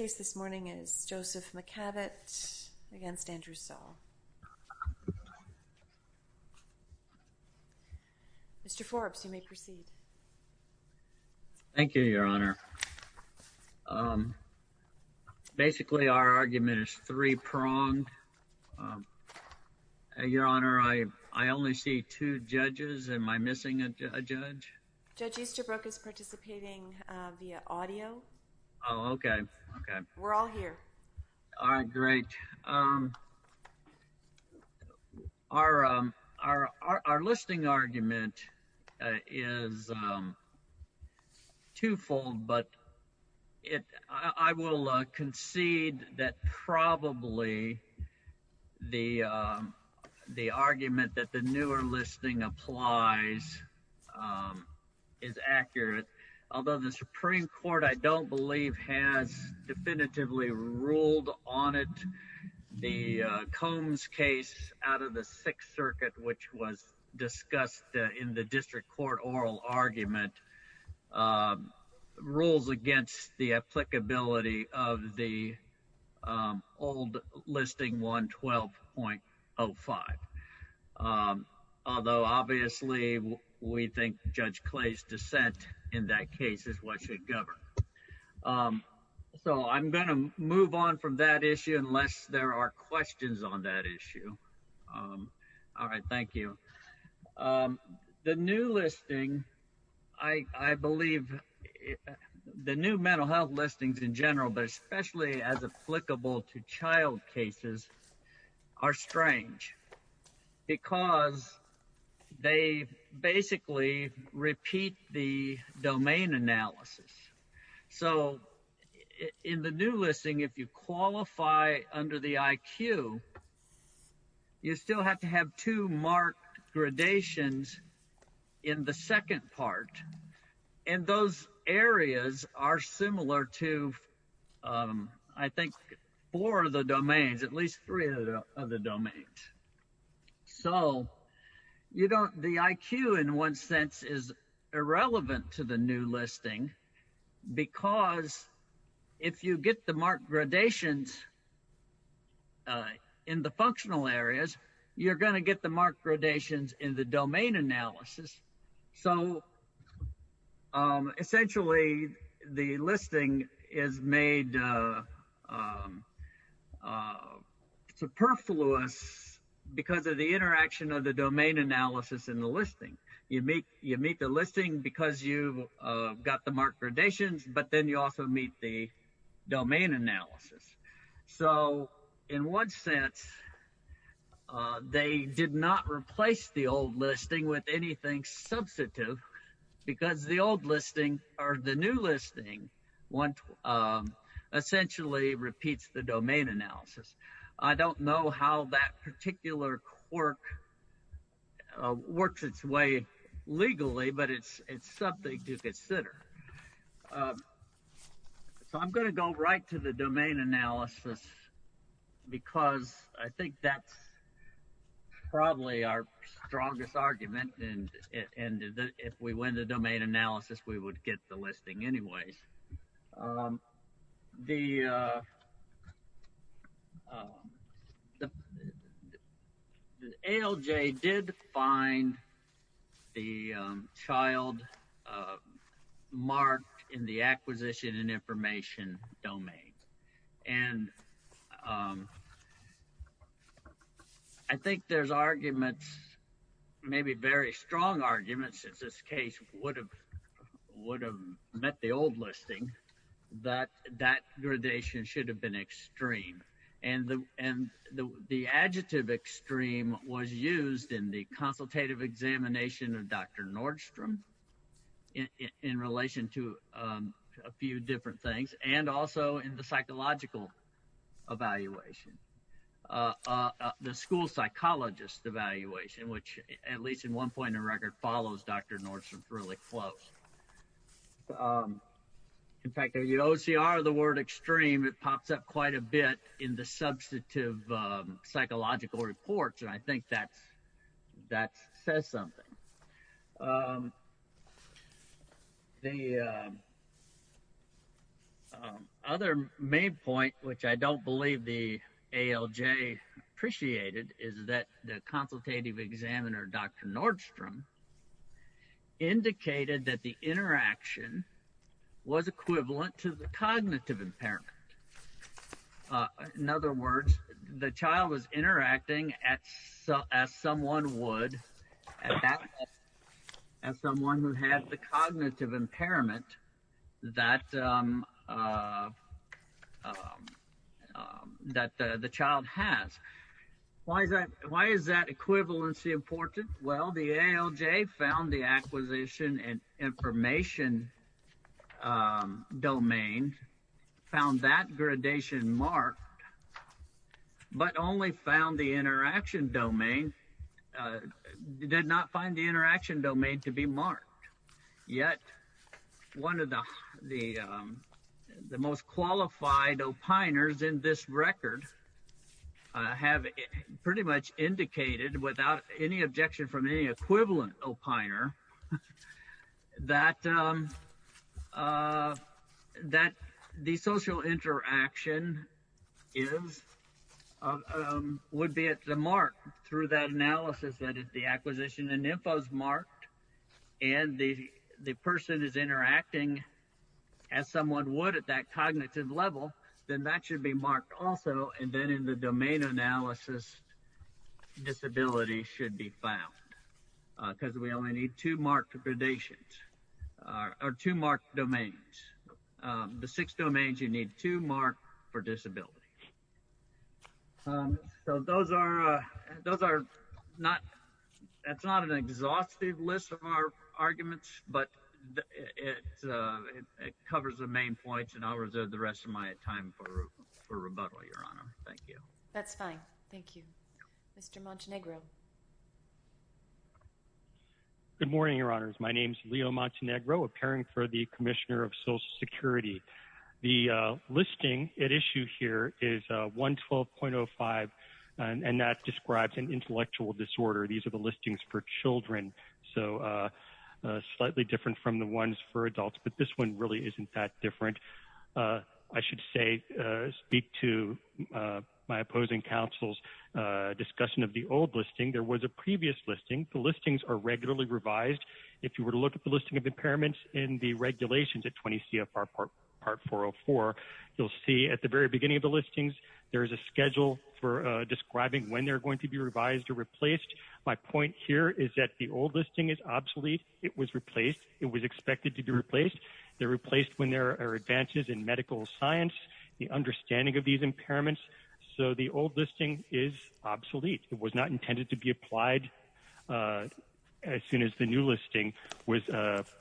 Mr. Forbes you may proceed. Thank you, Your Honor. Basically our argument is three-pronged. Your Honor, I only see two judges. Am I missing a judge? Judge Easterbrook is participating via audio. Oh, okay. We're all here. All right, great. Our listing argument is two-fold, but I will concede that probably the argument that the newer listing applies is accurate. Although the Supreme Court, I don't believe, has definitively ruled on it, the Combs case out of the Sixth Circuit, which was discussed in the district court oral argument, rules against the applicability of the old listing 112.05. Although obviously we think Judge Clay's dissent in that case is what should govern. So I'm going to move on from that issue unless there are questions on that issue. All right, thank you. The new listing, I believe, the new mental health listings in general, but especially as applicable to child cases, are strange because they basically repeat the domain analysis. So in the new listing, if you qualify under the IQ, you still have to have two marked gradations in the second part. And those areas are similar to, I think, four of the domains, at least three of the domains. So the IQ, in one sense, is irrelevant to the new listing because if you get the marked gradations in the functional areas, you're going to get the marked gradations in the domain analysis. So essentially the listing is made superfluous because of the interaction of the domain analysis in the listing. You meet the listing because you've got the marked gradations, but then you also meet the domain analysis. So in one sense, they did not replace the old listing with anything substantive because the old listing or the new listing essentially repeats the domain analysis. I don't know how that particular quirk works its way legally, but it's something to consider. So I'm going to go right to the domain analysis because I think that's probably our strongest argument. And if we win the domain analysis, we would get the listing anyways. The ALJ did find the child marked in the acquisition and information domain. And I think there's arguments, maybe very strong arguments, that this case would have met the old listing. But that gradation should have been extreme. And the adjective extreme was used in the consultative examination of Dr. Nordstrom in relation to a few different things, and also in the psychological evaluation, the school psychologist evaluation, which at least in one point in the record follows Dr. Nordstrom really close. In fact, OCR, the word extreme, it pops up quite a bit in the substantive psychological reports. And I think that says something. The other main point, which I don't believe the ALJ appreciated, is that the consultative examiner, Dr. Nordstrom, indicated that the interaction was equivalent to the cognitive impairment. In other words, the child was interacting as someone would, as someone who had the cognitive impairment that the child has. Why is that equivalency important? Well, the ALJ found the acquisition and information domain, found that gradation marked, but only found the interaction domain, did not find the interaction domain to be marked. Yet, one of the most qualified opiners in this record have pretty much indicated, without any objection from any equivalent opiner, that the social interaction would be at the mark through that analysis, that the acquisition and info is marked. If the person is interacting as someone would at that cognitive level, then that should be marked also, and then in the domain analysis, disability should be found, because we only need two marked gradations, or two marked domains. The six domains, you need two marked for disability. So that's not an exhaustive list of our arguments, but it covers the main points, and I'll reserve the rest of my time for rebuttal, Your Honor. Thank you. That's fine. Thank you. Mr. Montenegro. Good morning, Your Honors. My name is Leo Montenegro, appearing for the Commissioner of Social Security. The listing at issue here is 112.05, and that describes an intellectual disorder. These are the listings for children, so slightly different from the ones for adults, but this one really isn't that different. I should say, speak to my opposing counsel's discussion of the old listing. There was a previous listing. The listings are regularly revised. If you were to look at the listing of impairments in the regulations at 20 CFR Part 404, you'll see at the very beginning of the listings, there is a schedule for describing when they're going to be revised or replaced. My point here is that the old listing is obsolete. It was replaced. It was expected to be replaced. They're replaced when there are advances in medical science, the understanding of these impairments. So the old listing is obsolete. It was not intended to be applied as soon as the new listing was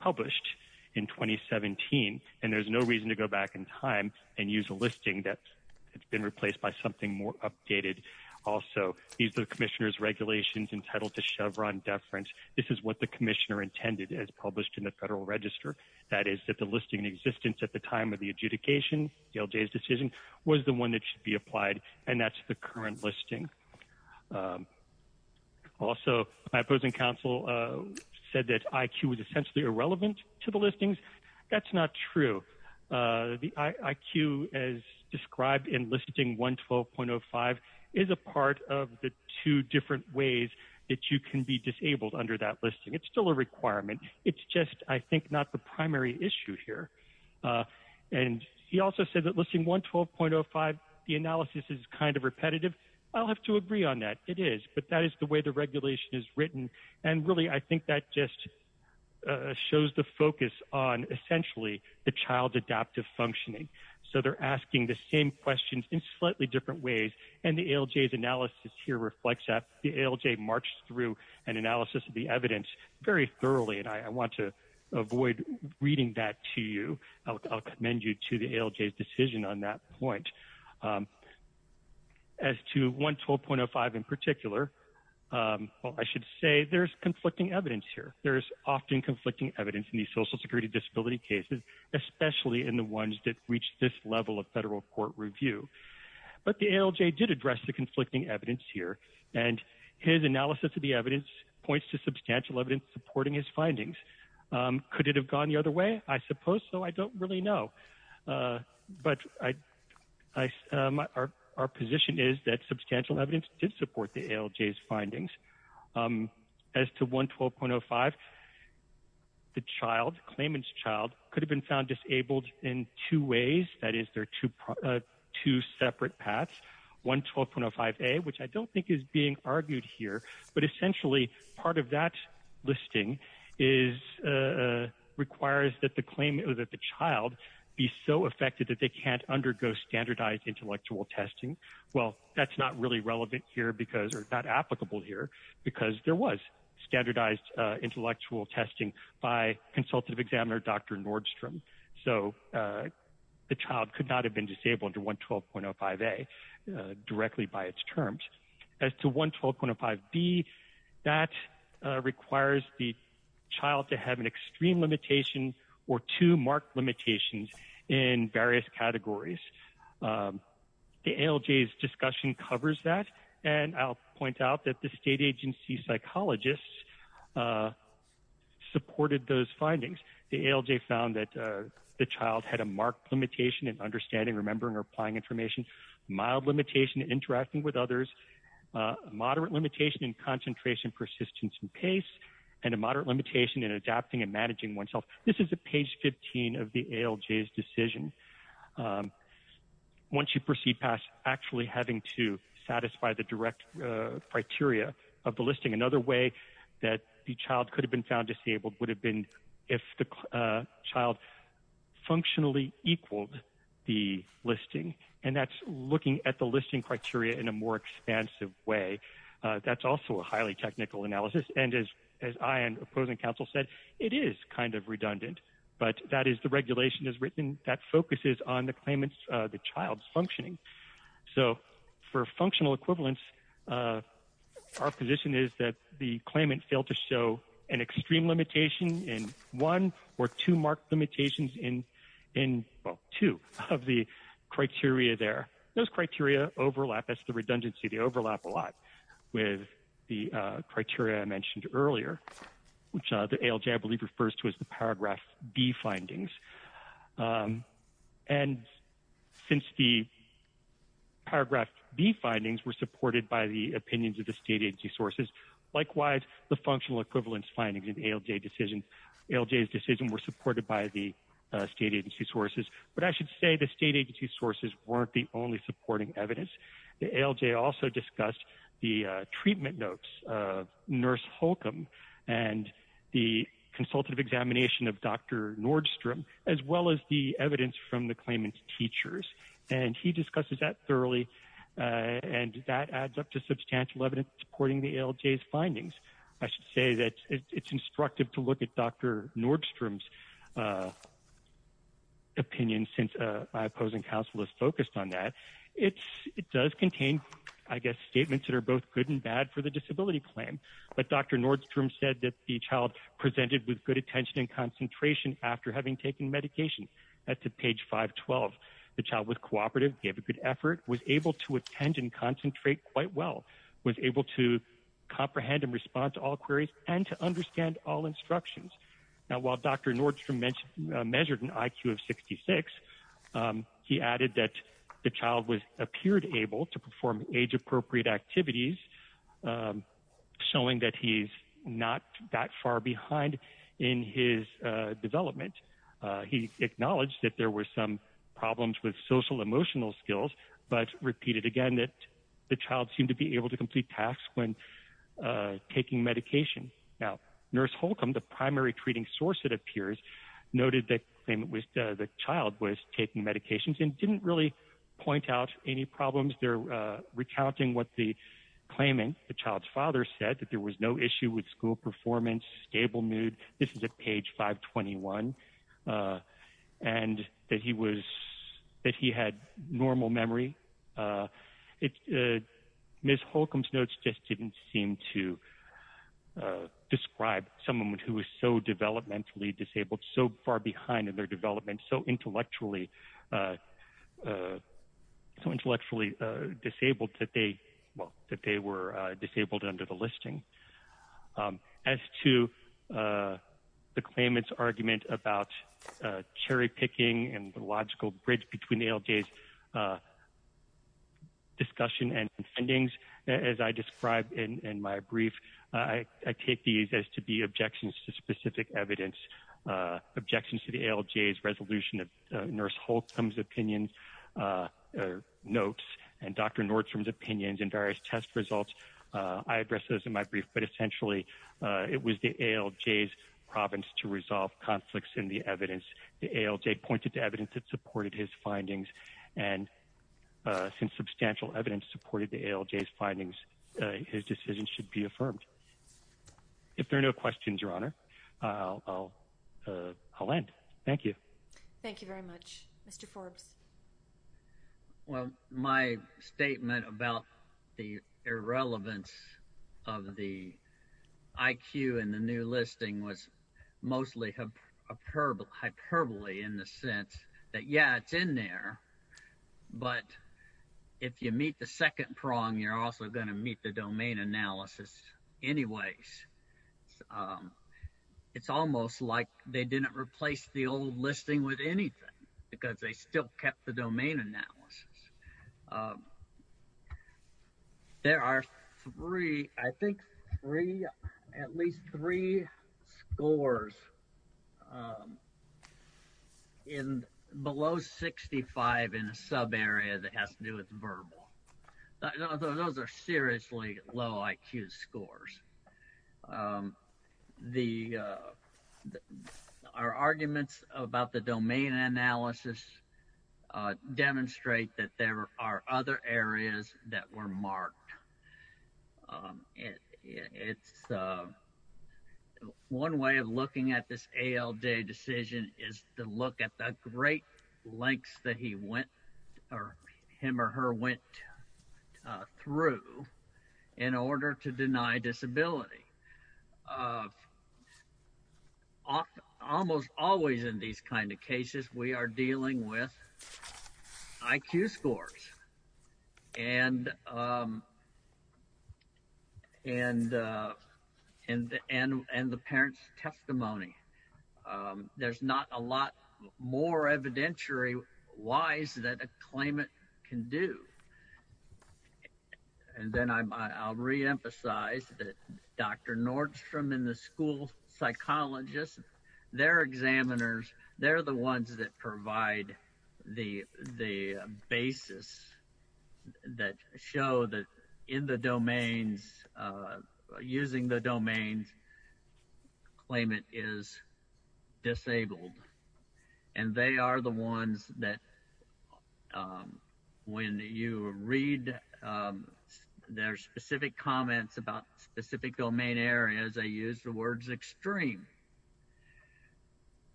published in 2017, and there's no reason to go back in time and use a listing that has been replaced by something more updated. Also, these are the Commissioner's regulations entitled to Chevron deference. This is what the Commissioner intended as published in the Federal Register. That is, that the listing in existence at the time of the adjudication, DLJ's decision, was the one that should be applied, and that's the current listing. Also, my opposing counsel said that IQ is essentially irrelevant to the listings. That's not true. The IQ, as described in listing 112.05, is a part of the two different ways that you can be disabled under that listing. It's still a requirement. It's just, I think, not the primary issue here. And he also said that listing 112.05, the analysis is kind of repetitive. I'll have to agree on that. It is, but that is the way the regulation is written, and really, I think that just shows the focus on, essentially, the child's adaptive functioning. So they're asking the same questions in slightly different ways, and the ALJ's analysis here reflects that. The ALJ marched through an analysis of the evidence very thoroughly, and I want to avoid reading that to you. I'll commend you to the ALJ's decision on that point. As to 112.05 in particular, I should say there's conflicting evidence here. There's often conflicting evidence in these social security disability cases, especially in the ones that reach this level of federal court review. But the ALJ did address the conflicting evidence here, and his analysis of the evidence points to substantial evidence supporting his findings. Could it have gone the other way? I suppose so. I don't really know. But our position is that substantial evidence did support the ALJ's findings. As to 112.05, the claimant's child could have been found disabled in two ways. That is, there are two separate paths, 112.05A, which I don't think is being argued here. But essentially, part of that listing requires that the child be so affected that they can't undergo standardized intellectual testing. Well, that's not really relevant here, or not applicable here, because there was standardized intellectual testing by Consultative Examiner Dr. Nordstrom. So the child could not have been disabled under 112.05A directly by its terms. As to 112.05B, that requires the child to have an extreme limitation or two marked limitations in various categories. The ALJ's discussion covers that, and I'll point out that the state agency psychologists supported those findings. The ALJ found that the child had a marked limitation in understanding, remembering, or applying information, mild limitation in interacting with others, moderate limitation in concentration, persistence, and pace, and a moderate limitation in adapting and managing oneself. This is at page 15 of the ALJ's decision. Once you proceed past actually having to satisfy the direct criteria of the listing, another way that the child could have been found disabled would have been if the child functionally equaled the listing, and that's looking at the listing criteria in a more expansive way. That's also a highly technical analysis, and as I and opposing counsel said, it is kind of redundant, but that is the regulation as written that focuses on the claimant's, the child's functioning. So for functional equivalence, our position is that the claimant failed to show an extreme limitation in one or two marked limitations in two of the criteria there. Those criteria overlap, that's the redundancy, they overlap a lot with the criteria I mentioned earlier, which the ALJ I believe refers to as the Paragraph B findings. And since the Paragraph B findings were supported by the opinions of the state agency sources, likewise, the functional equivalence findings in ALJ's decision were supported by the state agency sources. But I should say the state agency sources weren't the only supporting evidence. The ALJ also discussed the treatment notes of Nurse Holcomb and the consultative examination of Dr. Nordstrom, as well as the evidence from the claimant's teachers. And he discusses that thoroughly, and that adds up to substantial evidence supporting the ALJ's findings. I should say that it's instructive to look at Dr. Nordstrom's opinion, since my opposing counsel is focused on that. It does contain, I guess, statements that are both good and bad for the disability claim. But Dr. Nordstrom said that the child presented with good attention and concentration after having taken medication. That's at page 512. The child was cooperative, gave a good effort, was able to attend and concentrate quite well, was able to comprehend and respond to all queries, and to understand all instructions. Now, while Dr. Nordstrom measured an IQ of 66, he added that the child appeared able to perform age-appropriate activities, showing that he's not that far behind in his development. He acknowledged that there were some problems with social-emotional skills, but repeated again that the child seemed to be able to complete tasks when taking medication. Now, Nurse Holcomb, the primary treating source, it appears, noted that the child was taking medications and didn't really point out any problems. They're recounting what the claimant, the child's father, said, that there was no issue with school performance, stable mood. This is at page 521, and that he had normal memory. Ms. Holcomb's notes just didn't seem to describe someone who was so developmentally disabled, so far behind in their development, so intellectually disabled that they were disabled under the listing. As to the claimant's argument about cherry-picking and the logical bridge between ALJ's discussion and findings, as I described in my brief, I take these as to be objections to specific evidence, objections to the ALJ's resolution of Nurse Holcomb's opinions, notes, and Dr. Nordstrom's opinions, and various test results. I addressed those in my brief, but essentially, it was the ALJ's province to resolve conflicts in the evidence. The ALJ pointed to evidence that supported his findings, and since substantial evidence supported the ALJ's findings, his decision should be affirmed. If there are no questions, Your Honor, I'll end. Thank you. Thank you very much. Mr. Forbes. Well, my statement about the irrelevance of the IQ in the new listing was mostly hyperbole in the sense that, yeah, it's in there, but if you meet the second prong, you're also going to meet the domain analysis anyways. It's almost like they didn't replace the old listing with anything because they still kept the domain analysis. There are three, I think three, at least three scores below 65 in a subarea that has to do with verbal. Those are seriously low IQ scores. Our arguments about the domain analysis demonstrate that there are other areas that were marked. One way of looking at this ALJ decision is to look at the great lengths that he went or him or her went through in order to deny disability. Almost always in these kind of cases, we are dealing with IQ scores and the parent's testimony. There's not a lot more evidentiary-wise that a claimant can do. And then I'll reemphasize that Dr. Nordstrom and the school psychologists, their examiners, they're the ones that provide the basis that show that in the domains, using the domains, claimant is disabled. And they are the ones that when you read their specific comments about specific domain areas, they use the words extreme.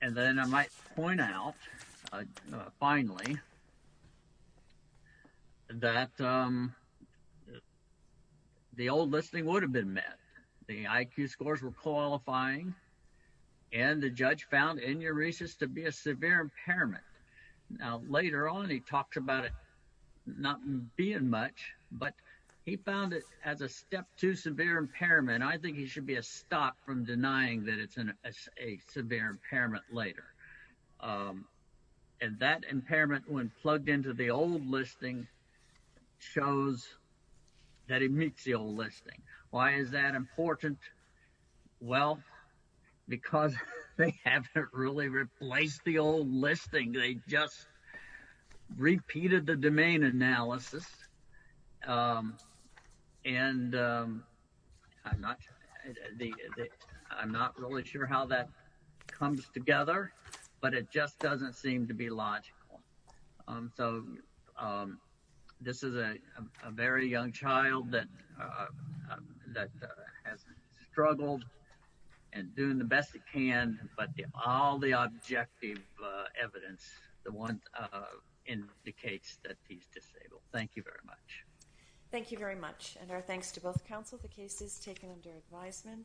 And then I might point out, finally, that the old listing would have been met. The IQ scores were qualifying and the judge found enuresis to be a severe impairment. Now, later on, he talked about it not being much, but he found it as a step two severe impairment. I think he should be a stop from denying that it's a severe impairment later. And that impairment, when plugged into the old listing, shows that it meets the old listing. Why is that important? Well, because they haven't really replaced the old listing. They just repeated the domain analysis. And I'm not really sure how that comes together, but it just doesn't seem to be logical. So this is a very young child that has struggled and doing the best it can, but all the objective evidence indicates that he's disabled. Thank you very much. Thank you very much. And our thanks to both counsel. The case is taken under advisement.